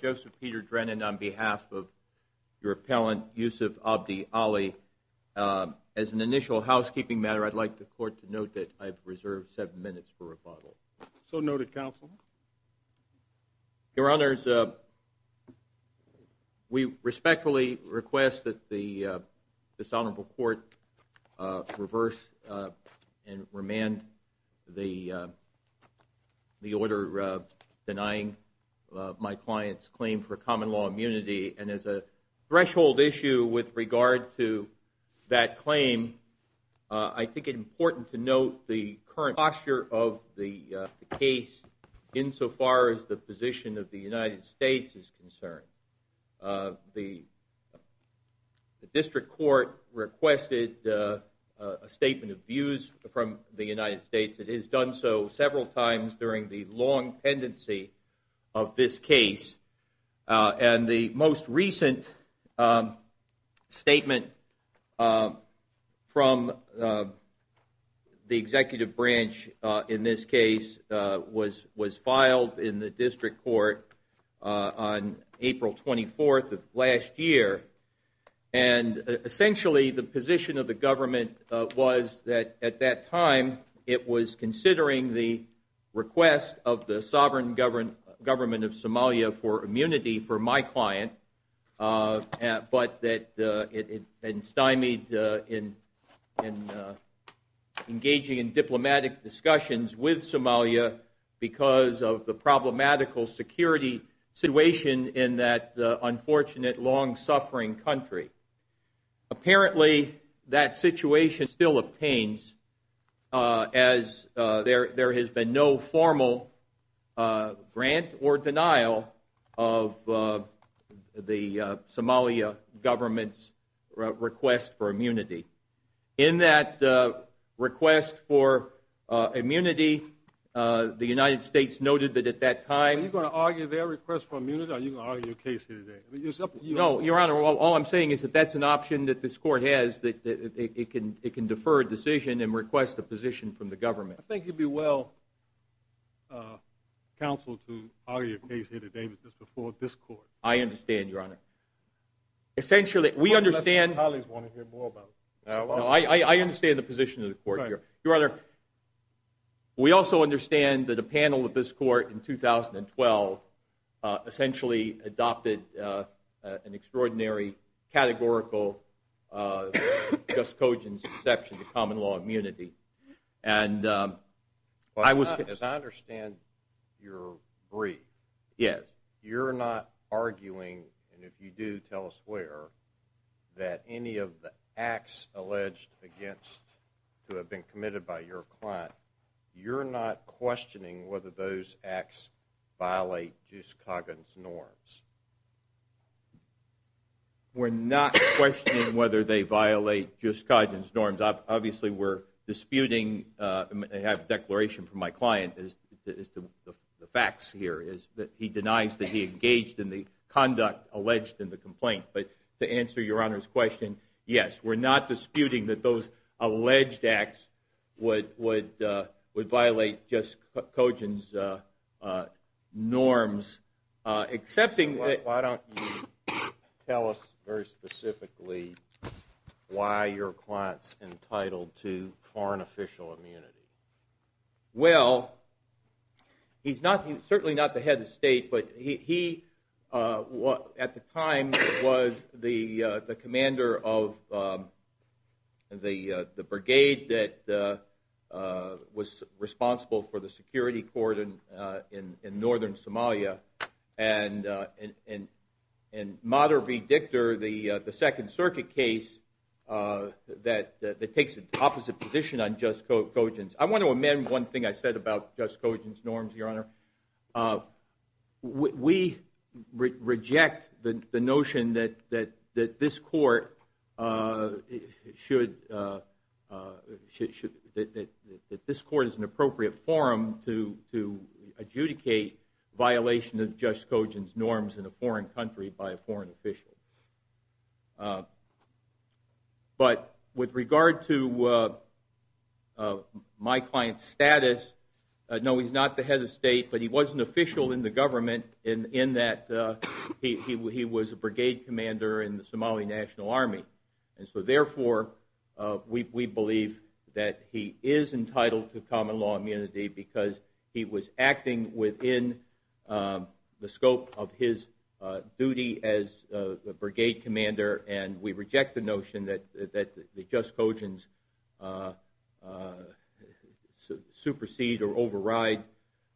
Joseph Peter Drennon v. Yusuf Abdi Ali As an initial housekeeping matter I'd like the court to note that I've reserved seven minutes for rebuttal. Your Honors, we respectfully request that the Dishonorable Court reverse and remand the order denying my client's claim for common law immunity. And as a threshold issue with regard to that claim, I think it's important to note the current posture of the case insofar as the position of the United States is concerned. The District Court requested a statement of views from the United States. It has done so several times during the long pendency of this case. And the most recent statement from the executive branch in this case was filed in the District Court on April 24th of last year. And essentially the position of the government was that at that time it was considering the request of the sovereign government of Somalia for immunity for my client, but that it stymied in engaging in diplomatic discussions with Somalia because of the problematical security situation in that unfortunate, long-suffering country. Apparently that situation still obtains as there has been no formal grant or denial of the Somalia government's request for immunity. In that request for immunity, the United States noted that at that time... Are you going to argue their request for immunity or are you going to argue the case here today? Your Honor, all I'm saying is that that's an option that this Court has. It can defer a decision and request a position from the government. I think it would be well counseled to argue a case here today just before this Court. I understand, Your Honor. Essentially, we understand... I understand the position of the Court here. Your Honor, we also understand that a panel of this Court in 2012 essentially adopted an extraordinary, categorical, just cogent exception to common law immunity. And I was... As I understand your brief... Yes. Your Honor, you're not arguing, and if you do, tell us where, that any of the acts alleged against to have been committed by your client, you're not questioning whether those acts violate just cogent's norms. We're not questioning whether they violate just cogent's norms. Obviously, we're disputing... I have a declaration from my client is the facts here is that he denies that he engaged in the conduct alleged in the complaint. But to answer your Honor's question, yes, we're not disputing that those alleged acts would violate just cogent's norms, excepting... Why don't you tell us very specifically why your client's entitled to foreign official immunity? Well, he's certainly not the head of state, but he, at the time, was the commander of the brigade that was responsible for the security cordon in northern Somalia. And Mader v. Dictor, the Second Circuit case that takes an opposite position on just cogent's... I want to amend one thing I said about just cogent's norms, your Honor. We reject the notion that this court is an appropriate forum to adjudicate violation of just cogent's norms in a foreign country by a foreign official. But with regard to my client's status, no, he's not the head of state, but he was an official in the government in that he was a brigade commander in the Somali National Army. And so, therefore, we believe that he is entitled to common law immunity because he was acting within the scope of his duty as a brigade commander, and we reject the notion that the just cogent's supersede or override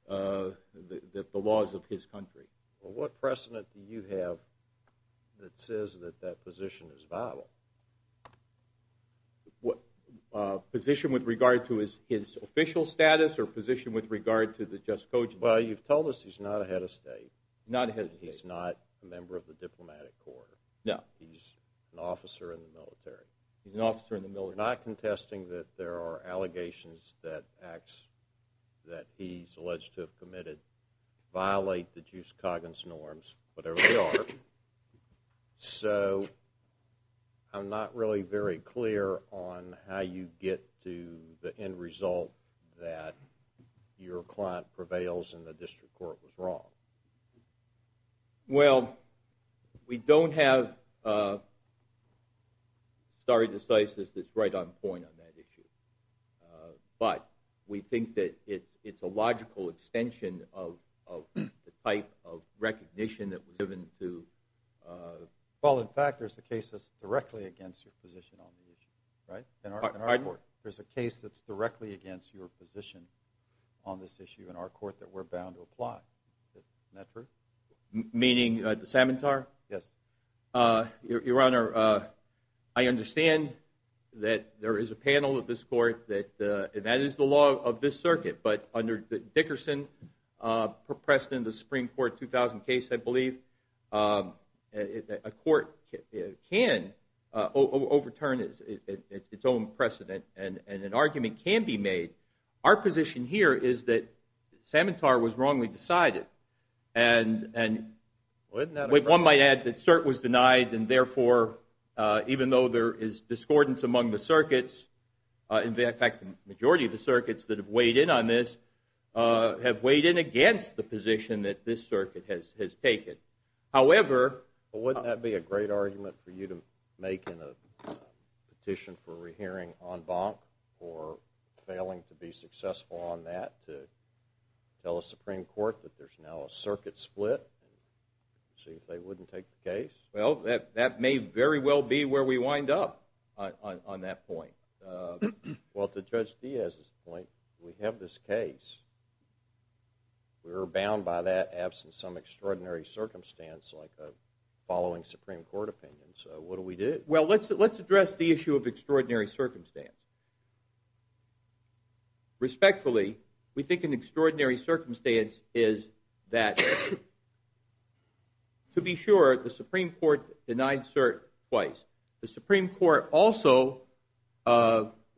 the laws of his country. Well, what precedent do you have that says that that position is viable? Position with regard to his official status or position with regard to the just cogent? Well, you've told us he's not a head of state. Not a head of state. He's not a member of the diplomatic corps. No. He's an officer in the military. He's an officer in the military. You're not contesting that there are allegations that acts that he's alleged to have committed violate the just cogent's norms, whatever they are. So, I'm not really very clear on how you get to the end result that your client prevails and the district court was wrong. Well, we don't have a story of decisiveness that's right on point on that issue. But we think that it's a logical extension of the type of recognition that was given to – Well, in fact, there's a case that's directly against your position on the issue, right, in our court. Pardon? Meaning the Samantar? Yes. Your Honor, I understand that there is a panel of this court that that is the law of this circuit. But under Dickerson, pressed in the Supreme Court 2000 case, I believe, a court can overturn its own precedent. And an argument can be made. Our position here is that Samantar was wrongly decided. And one might add that cert was denied, and therefore, even though there is discordance among the circuits, in fact, the majority of the circuits that have weighed in on this have weighed in against the position that this circuit has taken. Well, wouldn't that be a great argument for you to make in a petition for a re-hearing on Bonk for failing to be successful on that to tell a Supreme Court that there's now a circuit split and see if they wouldn't take the case? Well, that may very well be where we wind up on that point. Well, to Judge Diaz's point, we have this case. We were bound by that, absent some extraordinary circumstance like a following Supreme Court opinion. So what do we do? Well, let's address the issue of extraordinary circumstance. Respectfully, we think an extraordinary circumstance is that, to be sure, the Supreme Court denied cert twice. The Supreme Court also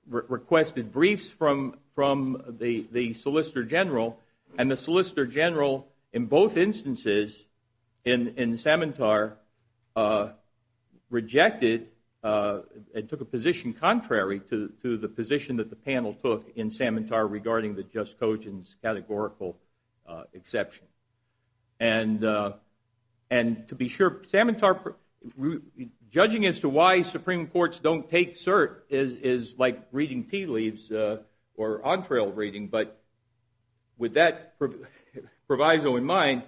requested briefs from the Solicitor General, and the Solicitor General in both instances in Samantar rejected and took a position contrary to the position that the panel took in Samantar regarding the Just Cogents categorical exception. And to be sure, Samantar, judging as to why Supreme Courts don't take cert is like reading tea leaves or entree reading. But with that proviso in mind,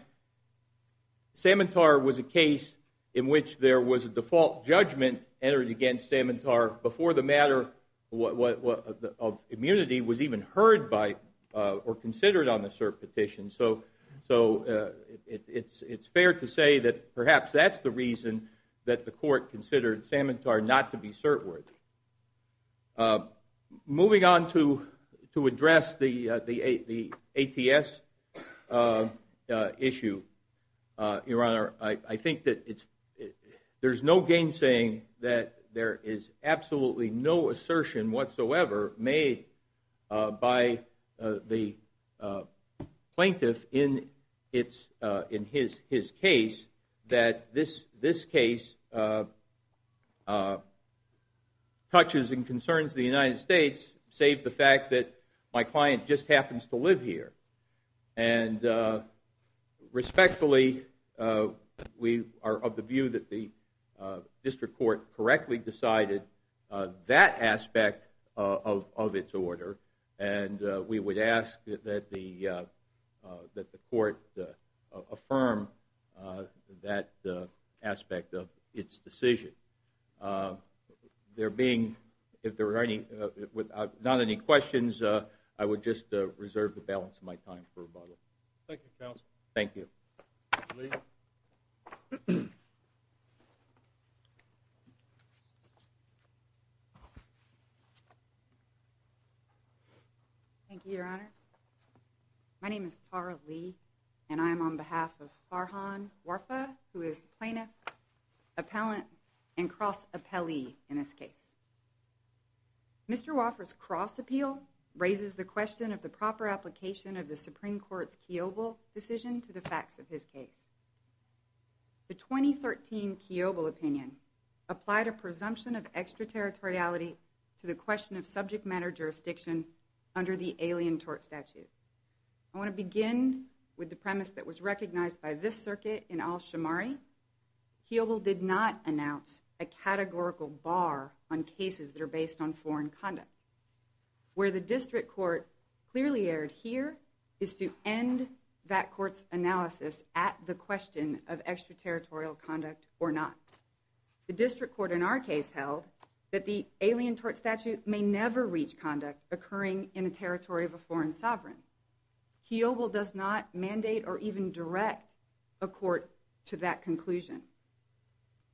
Samantar was a case in which there was a default judgment entered against Samantar before the matter of immunity was even heard by or considered on the cert petition. So it's fair to say that perhaps that's the reason that the court considered Samantar not to be cert worthy. Moving on to address the ATS issue, Your Honor, I think that there's no gainsaying that there is absolutely no assertion whatsoever made by the plaintiff in his case that this case touches and concerns the United States, save the fact that my client just happens to live here. And respectfully, we are of the view that the district court correctly decided that aspect of its order, and we would ask that the court affirm that aspect of its decision. There being not any questions, I would just reserve the balance of my time for rebuttal. Thank you, Counsel. Thank you. Thank you, Your Honor. My name is Tara Lee, and I am on behalf of Farhan Warfa, who is the plaintiff, appellant, and cross appellee in this case. Mr. Warfa's cross appeal raises the question of the proper application of the Supreme Court's Kiobel decision to the facts of his case. The 2013 Kiobel opinion applied a presumption of extraterritoriality to the question of subject matter jurisdiction under the Alien Tort Statute. I want to begin with the premise that was recognized by this circuit in Al-Shamari. Kiobel did not announce a categorical bar on cases that are based on foreign conduct. Where the district court clearly erred here is to end that court's analysis at the question of extraterritorial conduct or not. The district court in our case held that the Alien Tort Statute may never reach conduct occurring in a territory of a foreign sovereign. Kiobel does not mandate or even direct a court to that conclusion.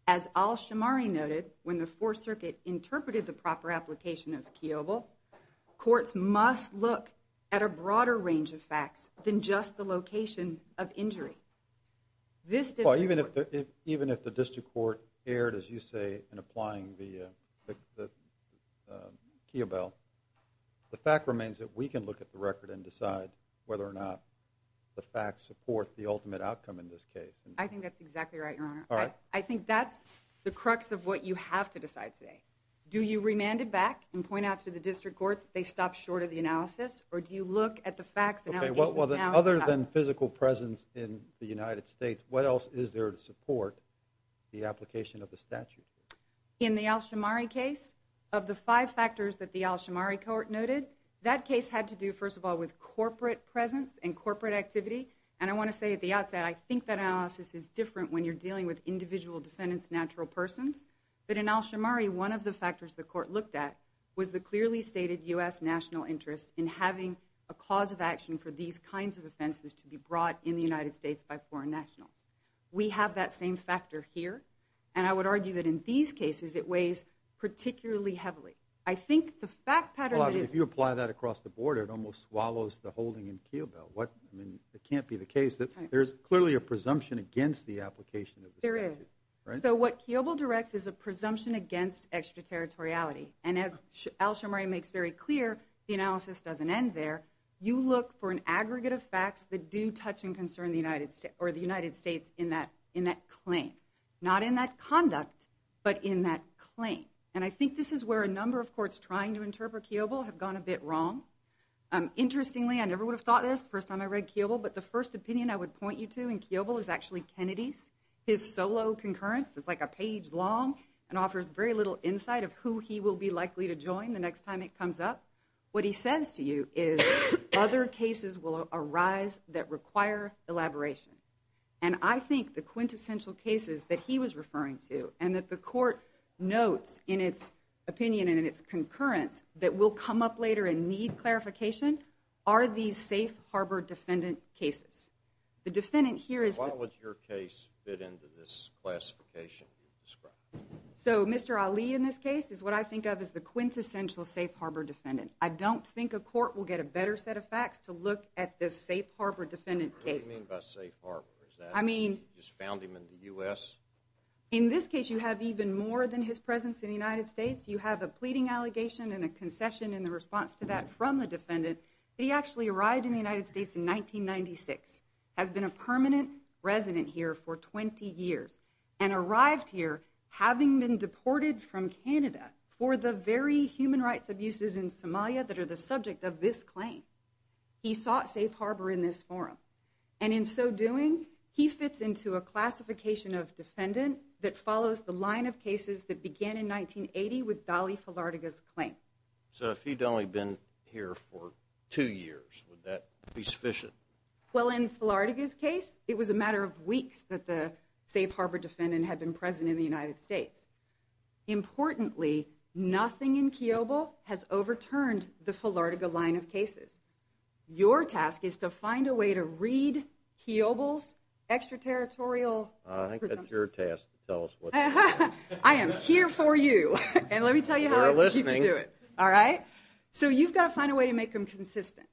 As Al-Shamari noted, when the Fourth Circuit interpreted the proper application of Kiobel, courts must look at a broader range of facts than just the location of injury. Even if the district court erred, as you say, in applying the Kiobel, the fact remains that we can look at the record and decide whether or not the facts support the ultimate outcome in this case. I think that's exactly right, Your Honor. All right. I think that's the crux of what you have to decide today. Do you remand it back and point out to the district court that they stopped short of the analysis, or do you look at the facts and allegations now? Okay, well, other than physical presence in the United States, what else is there to support the application of the statute? In the Al-Shamari case, of the five factors that the Al-Shamari court noted, that case had to do, first of all, with corporate presence and corporate activity. And I want to say at the outset, I think that analysis is different when you're dealing with individual defendants, natural persons. But in Al-Shamari, one of the factors the court looked at was the clearly stated U.S. national interest in having a cause of action for these kinds of offenses to be brought in the United States by foreign nationals. We have that same factor here, and I would argue that in these cases it weighs particularly heavily. I think the fact pattern is… Well, if you apply that across the border, it almost swallows the holding in Kiobel. It can't be the case that there's clearly a presumption against the application of the statute. There is. So what Kiobel directs is a presumption against extraterritoriality. And as Al-Shamari makes very clear, the analysis doesn't end there. You look for an aggregate of facts that do touch and concern the United States in that claim. Not in that conduct, but in that claim. And I think this is where a number of courts trying to interpret Kiobel have gone a bit wrong. Interestingly, I never would have thought this the first time I read Kiobel, but the first opinion I would point you to in Kiobel is actually Kennedy's, his solo concurrence. It's like a page long and offers very little insight of who he will be likely to join the next time it comes up. What he says to you is other cases will arise that require elaboration. And I think the quintessential cases that he was referring to and that the court notes in its opinion and in its concurrence that will come up later and need clarification are these safe harbor defendant cases. The defendant here is... Why would your case fit into this classification you described? So Mr. Ali in this case is what I think of as the quintessential safe harbor defendant. I don't think a court will get a better set of facts to look at this safe harbor defendant case. What do you mean by safe harbor? I mean... You just found him in the U.S.? In this case you have even more than his presence in the United States. You have a pleading allegation and a concession in the response to that from the defendant. He actually arrived in the United States in 1996, has been a permanent resident here for 20 years, and arrived here having been deported from Canada for the very human rights abuses in Somalia that are the subject of this claim. He sought safe harbor in this forum. And in so doing, he fits into a classification of defendant that follows the line of cases that began in 1980 with Dolly Filartiga's claim. So if he'd only been here for two years, would that be sufficient? Well in Filartiga's case, it was a matter of weeks that the safe harbor defendant had been present in the United States. Importantly, nothing in Kiobel has overturned the Filartiga line of cases. Your task is to find a way to read Kiobel's extraterritorial presumptions. I think that's your task to tell us what to do. I am here for you, and let me tell you how you can do it. We're listening. All right? So you've got to find a way to make them consistent.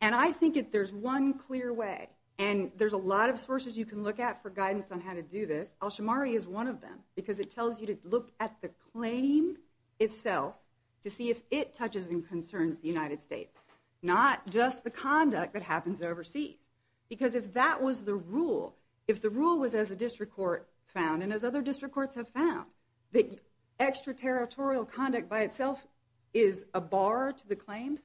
And I think that there's one clear way, and there's a lot of sources you can look at for guidance on how to do this. Al-Shamari is one of them, because it tells you to look at the claim itself to see if it touches and concerns the United States, not just the conduct that happens overseas. Because if that was the rule, if the rule was as a district court found, and as other district courts have found, that extraterritorial conduct by itself is a bar to the claims,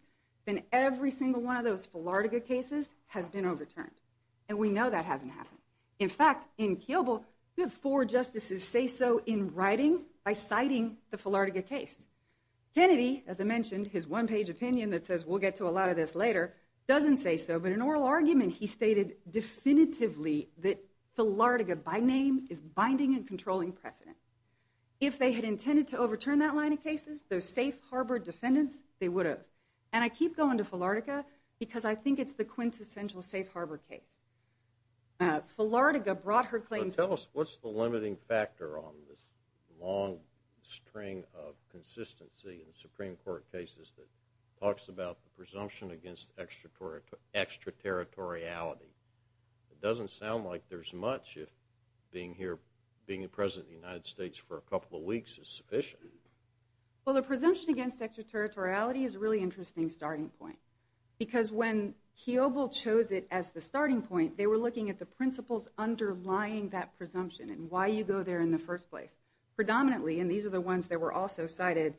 then every single one of those Filartiga cases has been overturned. And we know that hasn't happened. In fact, in Kiobel, we have four justices say so in writing by citing the Filartiga case. Kennedy, as I mentioned, his one-page opinion that says we'll get to a lot of this later, doesn't say so. But in an oral argument, he stated definitively that Filartiga by name is binding and controlling precedent. If they had intended to overturn that line of cases, those safe harbor defendants, they would have. And I keep going to Filartiga because I think it's the quintessential safe harbor case. Filartiga brought her claims. But tell us, what's the limiting factor on this long string of consistency in Supreme Court cases that talks about the presumption against extraterritoriality? It doesn't sound like there's much if being here, being a president of the United States for a couple of weeks is sufficient. Well, the presumption against extraterritoriality is a really interesting starting point. Because when Kiobel chose it as the starting point, they were looking at the principles underlying that presumption and why you go there in the first place. Predominantly, and these are the ones that were also cited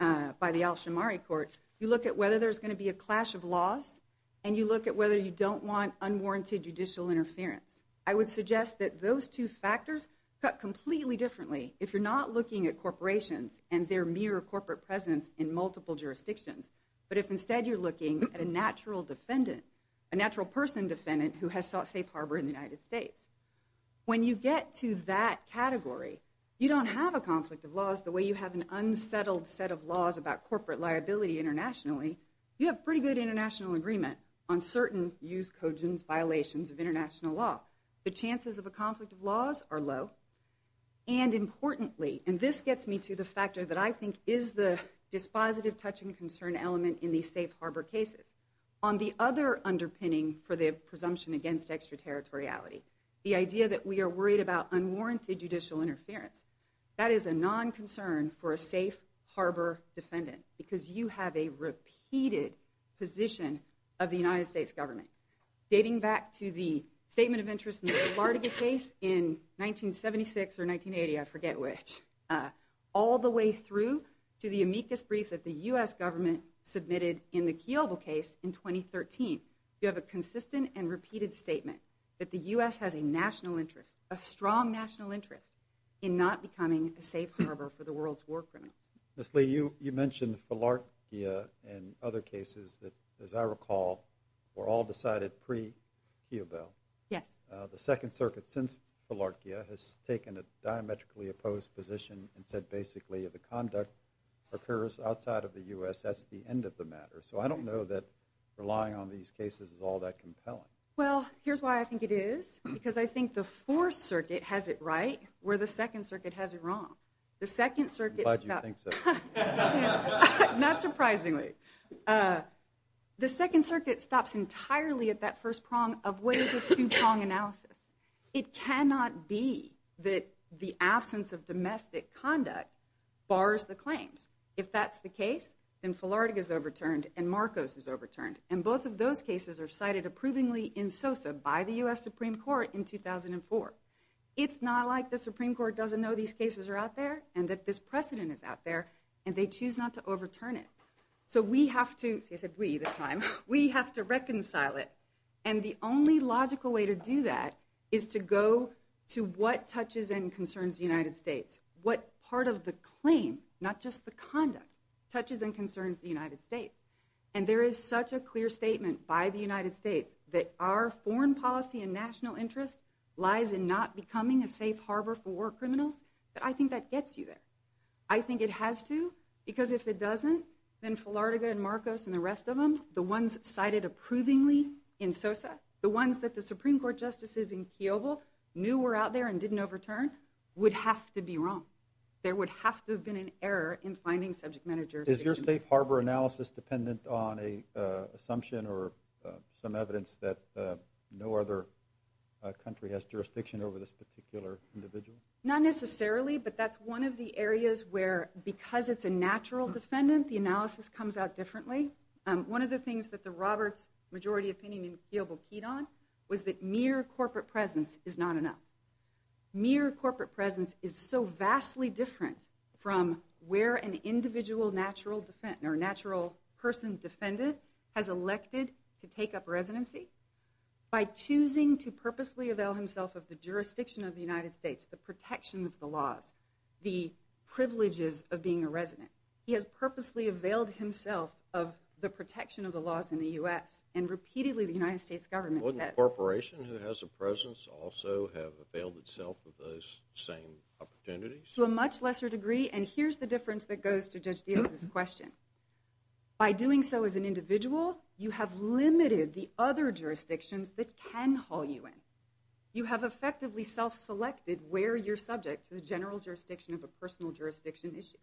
by the Al-Shammari Court, you look at whether there's going to be a clash of laws, and you look at whether you don't want unwarranted judicial interference. I would suggest that those two factors cut completely differently. If you're not looking at corporations and their mere corporate presence in multiple jurisdictions, but if instead you're looking at a natural defendant, a natural person defendant who has sought safe harbor in the United States, when you get to that category, you don't have a conflict of laws the way you have an unsettled set of laws about corporate liability internationally. You have pretty good international agreement on certain use, cogens, violations of international law. The chances of a conflict of laws are low. And importantly, and this gets me to the factor that I think is the dispositive touch and concern element in these safe harbor cases, on the other underpinning for the presumption against extraterritoriality, the idea that we are worried about unwarranted judicial interference, that is a non-concern for a safe harbor defendant because you have a repeated position of the United States government. Dating back to the statement of interest in the Philadelphia case in 1976 or 1980, I forget which, all the way through to the amicus brief that the U.S. government submitted in the Keogh case in 2013. You have a consistent and repeated statement that the U.S. has a national interest, a strong national interest in not becoming a safe harbor for the world's war criminals. Ms. Lee, you mentioned Philarkia and other cases that, as I recall, were all decided pre-Keogh Bill. Yes. The Second Circuit, since Philarkia, has taken a diametrically opposed position and said basically if a conduct occurs outside of the U.S., that's the end of the matter. So I don't know that relying on these cases is all that compelling. Well, here's why I think it is. Because I think the Fourth Circuit has it right where the Second Circuit has it wrong. I'm glad you think so. Not surprisingly. The Second Circuit stops entirely at that first prong of what is a two-prong analysis. It cannot be that the absence of domestic conduct bars the claims. If that's the case, then Philarkia is overturned and Marcos is overturned. And both of those cases are cited approvingly in SOSA by the U.S. Supreme Court in 2004. It's not like the Supreme Court doesn't know these cases are out there and that this precedent is out there and they choose not to overturn it. So we have to, I said we this time, we have to reconcile it. And the only logical way to do that is to go to what touches and concerns the United States. What part of the claim, not just the conduct, touches and concerns the United States. And there is such a clear statement by the United States that our foreign policy and national interest lies in not becoming a safe harbor for war criminals, that I think that gets you there. I think it has to, because if it doesn't, then Philarkia and Marcos and the rest of them, the ones cited approvingly in SOSA, the ones that the Supreme Court justices in Kiobel knew were out there and didn't overturn, would have to be wrong. There would have to have been an error in finding subject matter jurisdictions. Is your safe harbor analysis dependent on an assumption or some evidence that no other country has jurisdiction over this particular individual? Not necessarily, but that's one of the areas where because it's a natural defendant, the analysis comes out differently. One of the things that the Roberts majority opinion in Kiobel keyed on was that mere corporate presence is not enough. Mere corporate presence is so vastly different from where an individual natural person defendant has elected to take up residency. By choosing to purposely avail himself of the jurisdiction of the United States, the protection of the laws, the privileges of being a resident, he has purposely availed himself of the protection of the laws in the U.S. And repeatedly the United States government says... Wouldn't a corporation who has a presence also have availed itself of those same opportunities? To a much lesser degree, and here's the difference that goes to Judge Diaz's question. By doing so as an individual, you have limited the other jurisdictions that can haul you in. You have effectively self-selected where you're subject to the general jurisdiction of a personal jurisdiction issue.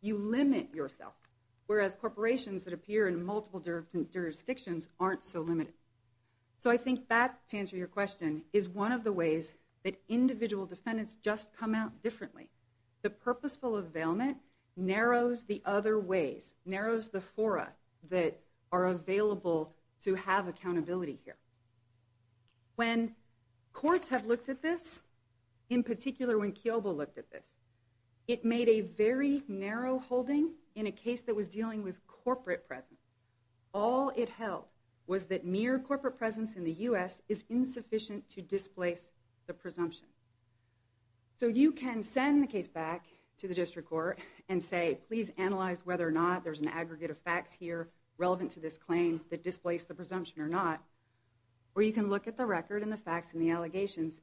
You limit yourself. Whereas corporations that appear in multiple jurisdictions aren't so limited. So I think that, to answer your question, is one of the ways that individual defendants just come out differently. The purposeful availment narrows the other ways, narrows the fora that are available to have accountability here. When courts have looked at this, in particular when Kiobel looked at this, it made a very narrow holding in a case that was dealing with corporate presence. All it held was that mere corporate presence in the U.S. is insufficient to displace the presumption. So you can send the case back to the district court and say, please analyze whether or not there's an aggregate of facts here relevant to this claim that displace the presumption or not.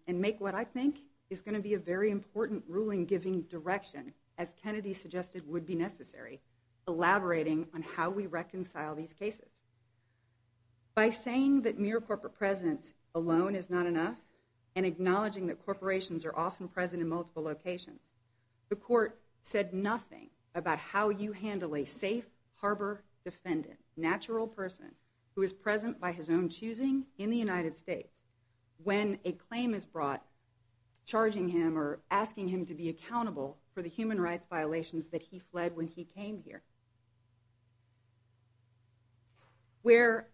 and make what I think is going to be a very important ruling-giving direction, as Kennedy suggested would be necessary, elaborating on how we reconcile these cases. By saying that mere corporate presence alone is not enough and acknowledging that corporations are often present in multiple locations, the court said nothing about how you handle a safe harbor defendant, natural person, who is present by his own choosing in the United States when a claim is brought, charging him or asking him to be accountable for the human rights violations that he fled when he came here. Where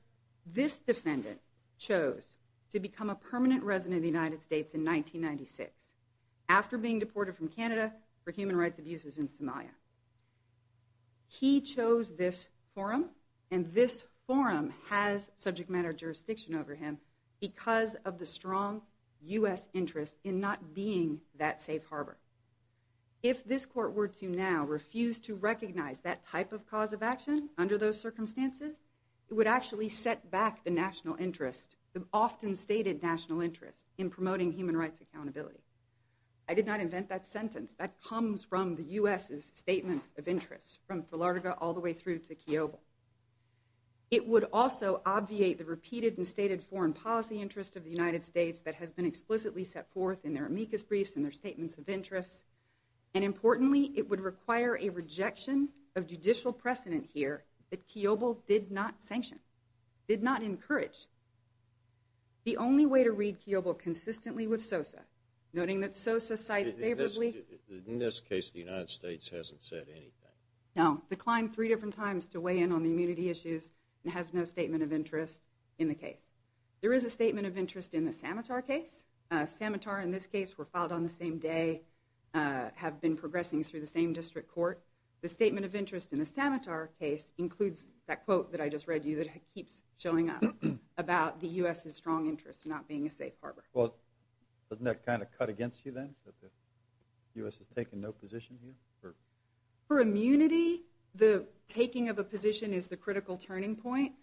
this defendant chose to become a permanent resident of the United States in 1996 after being deported from Canada for human rights abuses in Somalia. He chose this forum, and this forum has subject matter jurisdiction over him because of the strong U.S. interest in not being that safe harbor. If this court were to now refuse to recognize that type of cause of action under those circumstances, it would actually set back the national interest, the often-stated national interest, in promoting human rights accountability. I did not invent that sentence. That comes from the U.S.'s statements of interest, from Philardega all the way through to Kiobel. It would also obviate the repeated and stated foreign policy interest of the United States that has been explicitly set forth in their amicus briefs and their statements of interest. And importantly, it would require a rejection of judicial precedent here that Kiobel did not sanction, did not encourage. The only way to read Kiobel consistently with Sosa, noting that Sosa cites favorably. In this case, the United States hasn't said anything. Now, declined three different times to weigh in on the immunity issues and has no statement of interest in the case. There is a statement of interest in the Samatar case. Samatar, in this case, were filed on the same day, have been progressing through the same district court. The statement of interest in the Samatar case includes that quote that I just read you that keeps showing up about the U.S.'s strong interest in not being a safe harbor. Well, doesn't that kind of cut against you then, that the U.S. has taken no position here? For immunity, the taking of a position is the critical turning point.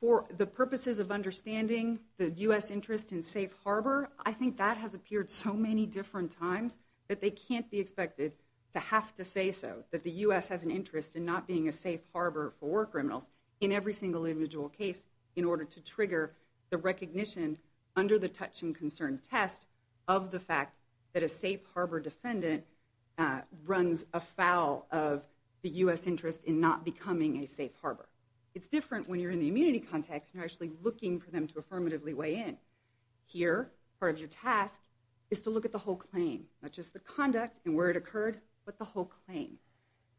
For the purposes of understanding the U.S. interest in safe harbor, I think that has appeared so many different times that they can't be expected to have to say so, that the U.S. has an interest in not being a safe harbor for war criminals in every single individual case in order to trigger the recognition under the touch and concern test of the fact that a safe harbor defendant runs afoul of the U.S. interest in not becoming a safe harbor. It's different when you're in the immunity context and you're actually looking for them to affirmatively weigh in. Here, part of your task is to look at the whole claim, not just the conduct and where it occurred, but the whole claim.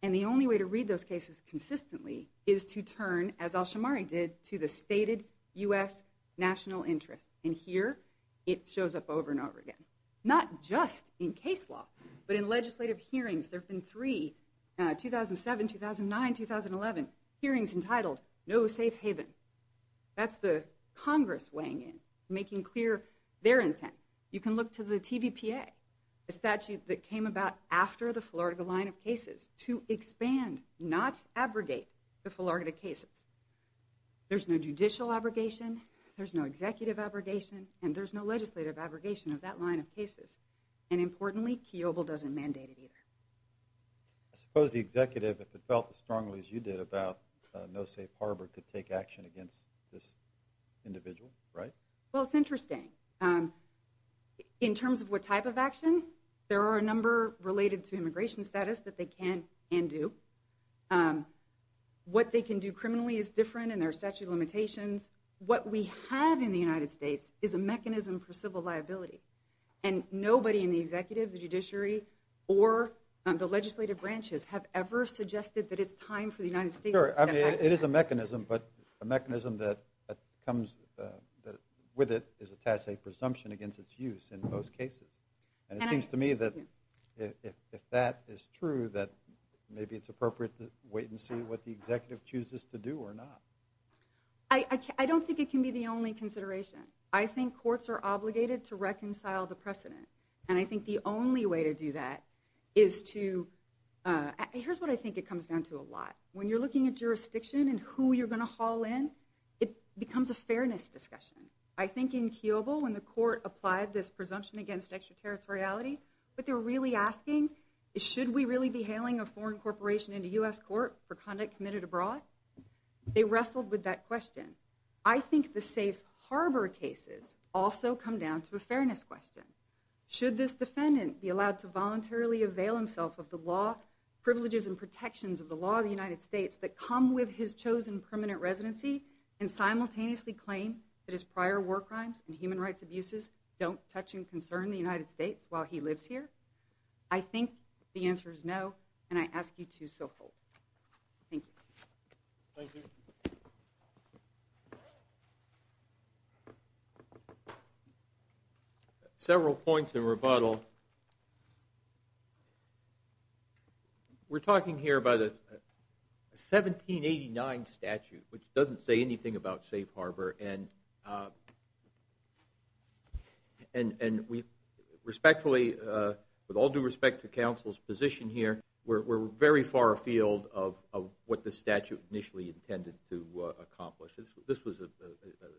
And the only way to read those cases consistently is to turn, as Alshamari did, to the stated U.S. national interest. And here, it shows up over and over again. Not just in case law, but in legislative hearings. There have been three, 2007, 2009, 2011, hearings entitled, No Safe Haven. That's the Congress weighing in, making clear their intent. You can look to the TVPA, a statute that came about after the Florida line of cases, to expand, not abrogate, the Florida cases. There's no judicial abrogation. There's no executive abrogation. And there's no legislative abrogation of that line of cases. And importantly, Kiobel doesn't mandate it either. I suppose the executive, if it felt as strongly as you did about no safe harbor, could take action against this individual, right? Well, it's interesting. In terms of what type of action, there are a number related to immigration status that they can and do. What they can do criminally is different, and there are statute of limitations. What we have in the United States is a mechanism for civil liability. And nobody in the executive, the judiciary, or the legislative branches have ever suggested that it's time for the United States to step up. Sure, I mean, it is a mechanism, but a mechanism that comes with it is attached a presumption against its use in most cases. And it seems to me that if that is true, that maybe it's appropriate to wait and see what the executive chooses to do or not. I don't think it can be the only consideration. I think courts are obligated to reconcile the precedent. And I think the only way to do that is to—here's what I think it comes down to a lot. When you're looking at jurisdiction and who you're going to haul in, it becomes a fairness discussion. I think in Kiobo, when the court applied this presumption against extraterritoriality, what they were really asking is should we really be hailing a foreign corporation into U.S. court for conduct committed abroad? They wrestled with that question. I think the safe harbor cases also come down to a fairness question. Should this defendant be allowed to voluntarily avail himself of the law, privileges, and protections of the law of the United States that come with his chosen permanent residency and simultaneously claim that his prior war crimes and human rights abuses don't touch and concern the United States while he lives here? I think the answer is no, and I ask you to so hold. Thank you. Thank you. Several points in rebuttal. Well, we're talking here about a 1789 statute, which doesn't say anything about safe harbor, and we respectfully, with all due respect to counsel's position here, we're very far afield of what the statute initially intended to accomplish. This was a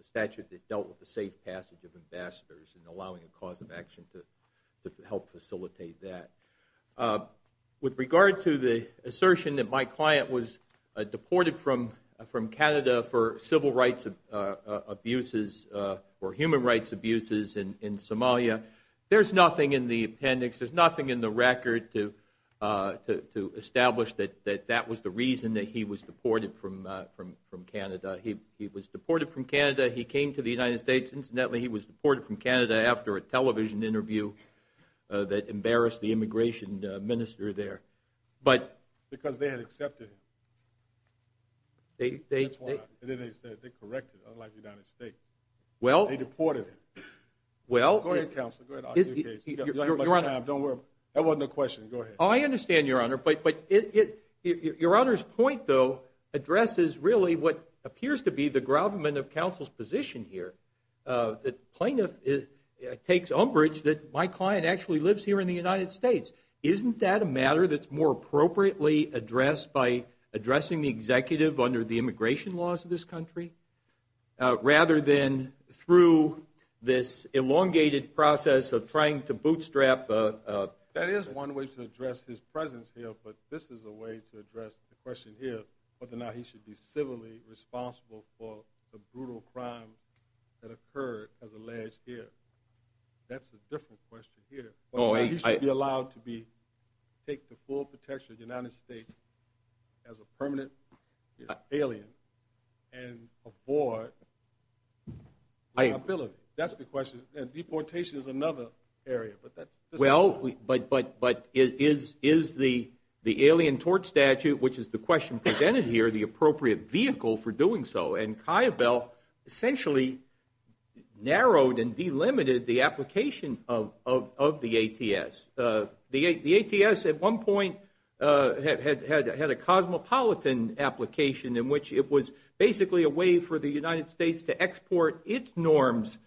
statute that dealt with the safe passage of ambassadors and allowing a cause of action to help facilitate that. With regard to the assertion that my client was deported from Canada for civil rights abuses or human rights abuses in Somalia, there's nothing in the appendix, there's nothing in the record to establish that that was the reason that he was deported from Canada. He was deported from Canada. He came to the United States. Incidentally, he was deported from Canada after a television interview that embarrassed the immigration minister there. Because they had accepted him. That's why. They corrected him, unlike the United States. They deported him. Go ahead, counsel. You don't have much time. That wasn't a question. Go ahead. I understand, Your Honor, but Your Honor's point, though, addresses really what appears to be the government of counsel's position here. The plaintiff takes umbrage that my client actually lives here in the United States. Isn't that a matter that's more appropriately addressed by addressing the executive under the immigration laws of this country, rather than through this elongated process of trying to bootstrap? That is one way to address his presence here, but this is a way to address the question here, whether or not he should be civilly responsible for the brutal crime that occurred as alleged here. That's a different question here. He should be allowed to take the full protection of the United States as a permanent alien and avoid liability. That's the question. And deportation is another area. Well, but is the alien tort statute, which is the question presented here, the appropriate vehicle for doing so? And Kiobel essentially narrowed and delimited the application of the ATS. The ATS at one point had a cosmopolitan application in which it was basically a way for the United States to export its norms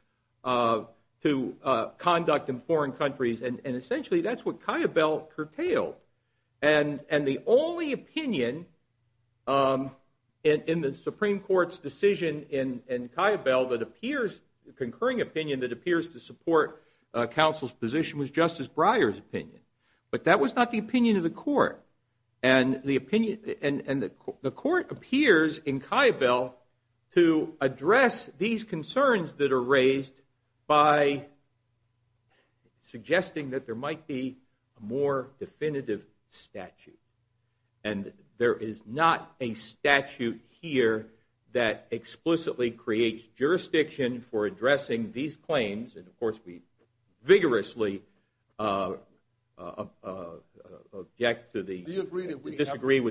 to conduct in foreign countries. And essentially that's what Kiobel curtailed. And the only opinion in the Supreme Court's decision in Kiobel that appears, the concurring opinion that appears to support counsel's position was Justice Breyer's opinion. And the court appears in Kiobel to address these concerns that are raised by suggesting that there might be a more definitive statute. And there is not a statute here that explicitly creates jurisdiction for addressing these claims. And, of course, we vigorously object to the, disagree with the contention.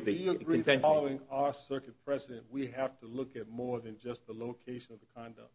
Do you agree that following our circuit precedent, we have to look at more than just the location of the conduct?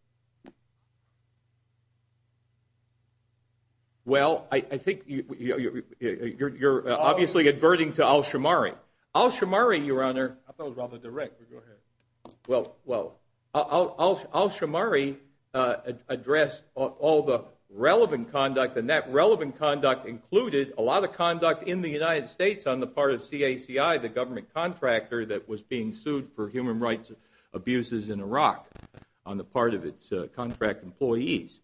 Well, I think you're obviously adverting to Al-Shamari. Al-Shamari, Your Honor. I thought it was rather direct, but go ahead. Well, Al-Shamari addressed all the relevant conduct, and that relevant conduct included a lot of conduct in the United States on the part of CACI, the government contractor that was being sued for human rights abuses in Iraq on the part of its contract employees.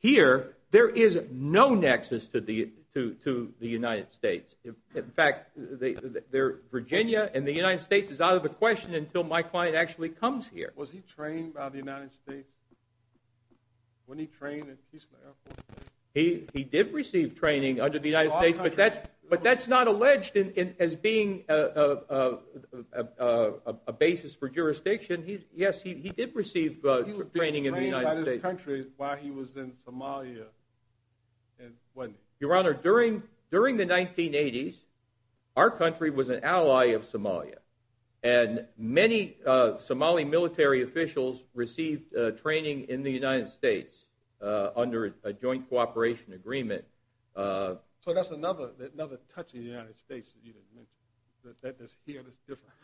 Here, there is no nexus to the United States. In fact, Virginia and the United States is out of the question until my client actually comes here. Was he trained by the United States when he trained at Keesner Air Force Base? He did receive training under the United States, but that's not alleged as being a basis for jurisdiction. Yes, he did receive training in the United States. He was trained by this country while he was in Somalia, wasn't he? Your Honor, during the 1980s, our country was an ally of Somalia, and many Somali military officials received training in the United States under a joint cooperation agreement. So that's another touch of the United States that you didn't mention.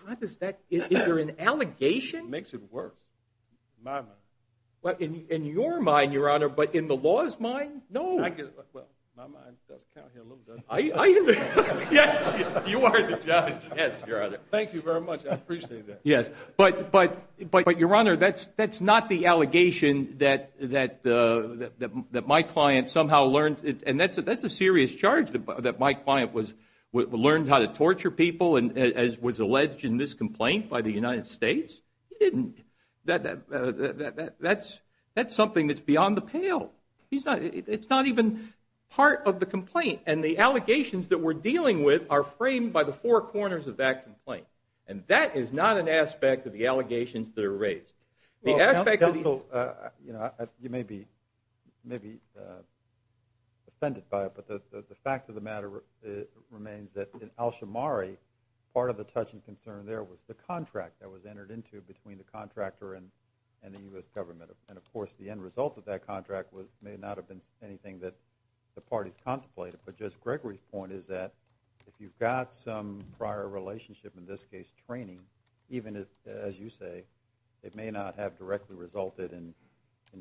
How does that – is there an allegation? It makes it worse, in my mind. In your mind, Your Honor, but in the law's mind, no. Well, my mind does count here a little, doesn't it? Yes, you are the judge. Yes, Your Honor. Thank you very much. I appreciate that. Yes, but, Your Honor, that's not the allegation that my client somehow learned – and that's a serious charge that my client learned how to torture people and was alleged in this complaint by the United States. He didn't. That's something that's beyond the pale. It's not even part of the complaint, and the allegations that we're dealing with are framed by the four corners of that complaint, and that is not an aspect of the allegations that are raised. The aspect of the – Well, counsel, you may be offended by it, but the fact of the matter remains that in Alshamari, part of the touching concern there was the contract that was entered into between the contractor and the U.S. government, and, of course, the end result of that contract may not have been anything that the parties contemplated. But Judge Gregory's point is that if you've got some prior relationship, in this case training, even as you say, it may not have directly resulted in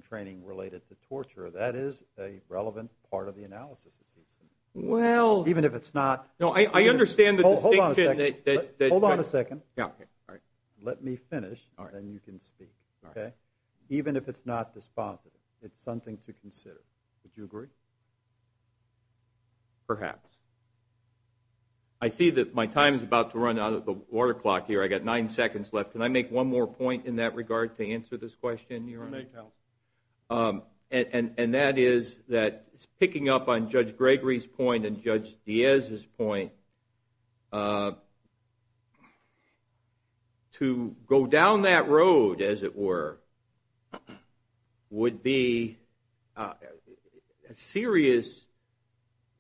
training related to torture. That is a relevant part of the analysis, it seems to me. Well – Even if it's not – No, I understand the distinction that – Hold on a second. Hold on a second. All right. Let me finish, then you can speak. Okay? Even if it's not dispositive, it's something to consider. Would you agree? Perhaps. I see that my time is about to run out of the water clock here. I've got nine seconds left. Can I make one more point in that regard to answer this question, Your Honor? You may tell. And that is that picking up on Judge Gregory's point and Judge Diaz's point, to go down that road, as it were, would be a serious,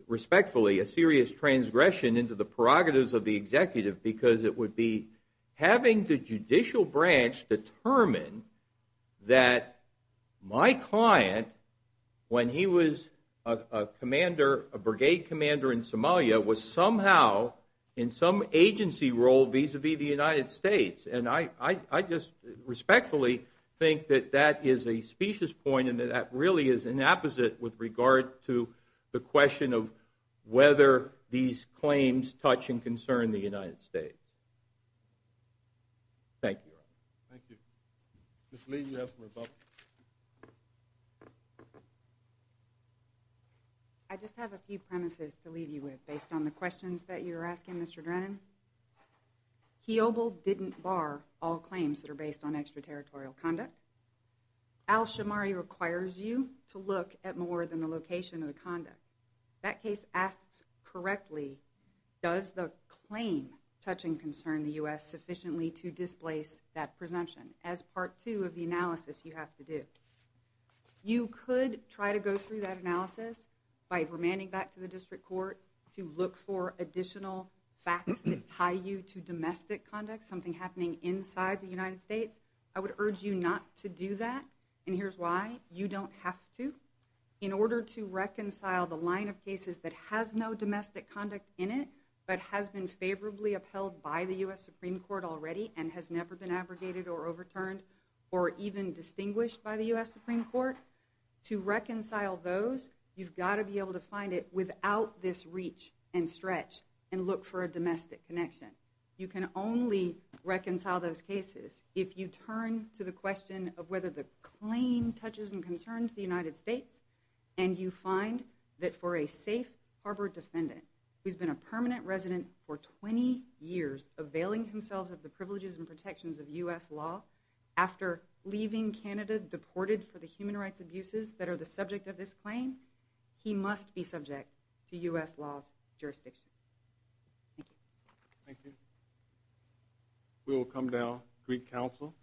respectfully, a serious transgression into the prerogatives of the executive because it would be having the judicial branch determine that my client, when he was a commander, a brigade commander in Somalia, was somehow in some agency role vis-à-vis the United States. And I just respectfully think that that is a specious point and that that really is an apposite with regard to the question of whether these claims touch and concern the United States. Thank you, Your Honor. Thank you. Ms. Lee, you have the rebuttal. Thank you. I just have a few premises to leave you with based on the questions that you're asking, Mr. Drennan. Kiobel didn't bar all claims that are based on extraterritorial conduct. Al-Shamari requires you to look at more than the location of the conduct. If that case asks correctly, does the claim touch and concern the U.S. sufficiently to displace that presumption? As part two of the analysis, you have to do. You could try to go through that analysis by remanding back to the district court to look for additional facts that tie you to domestic conduct, something happening inside the United States. I would urge you not to do that, and here's why. You don't have to. In order to reconcile the line of cases that has no domestic conduct in it but has been favorably upheld by the U.S. Supreme Court already and has never been abrogated or overturned or even distinguished by the U.S. Supreme Court, to reconcile those, you've got to be able to find it without this reach and stretch and look for a domestic connection. You can only reconcile those cases if you turn to the question of whether the claim touches and concerns the United States and you find that for a safe harbor defendant who's been a permanent resident for 20 years, availing himself of the privileges and protections of U.S. law, after leaving Canada deported for the human rights abuses that are the subject of this claim, he must be subject to U.S. law's jurisdiction. Thank you. Thank you. We will come to our Greek counsel.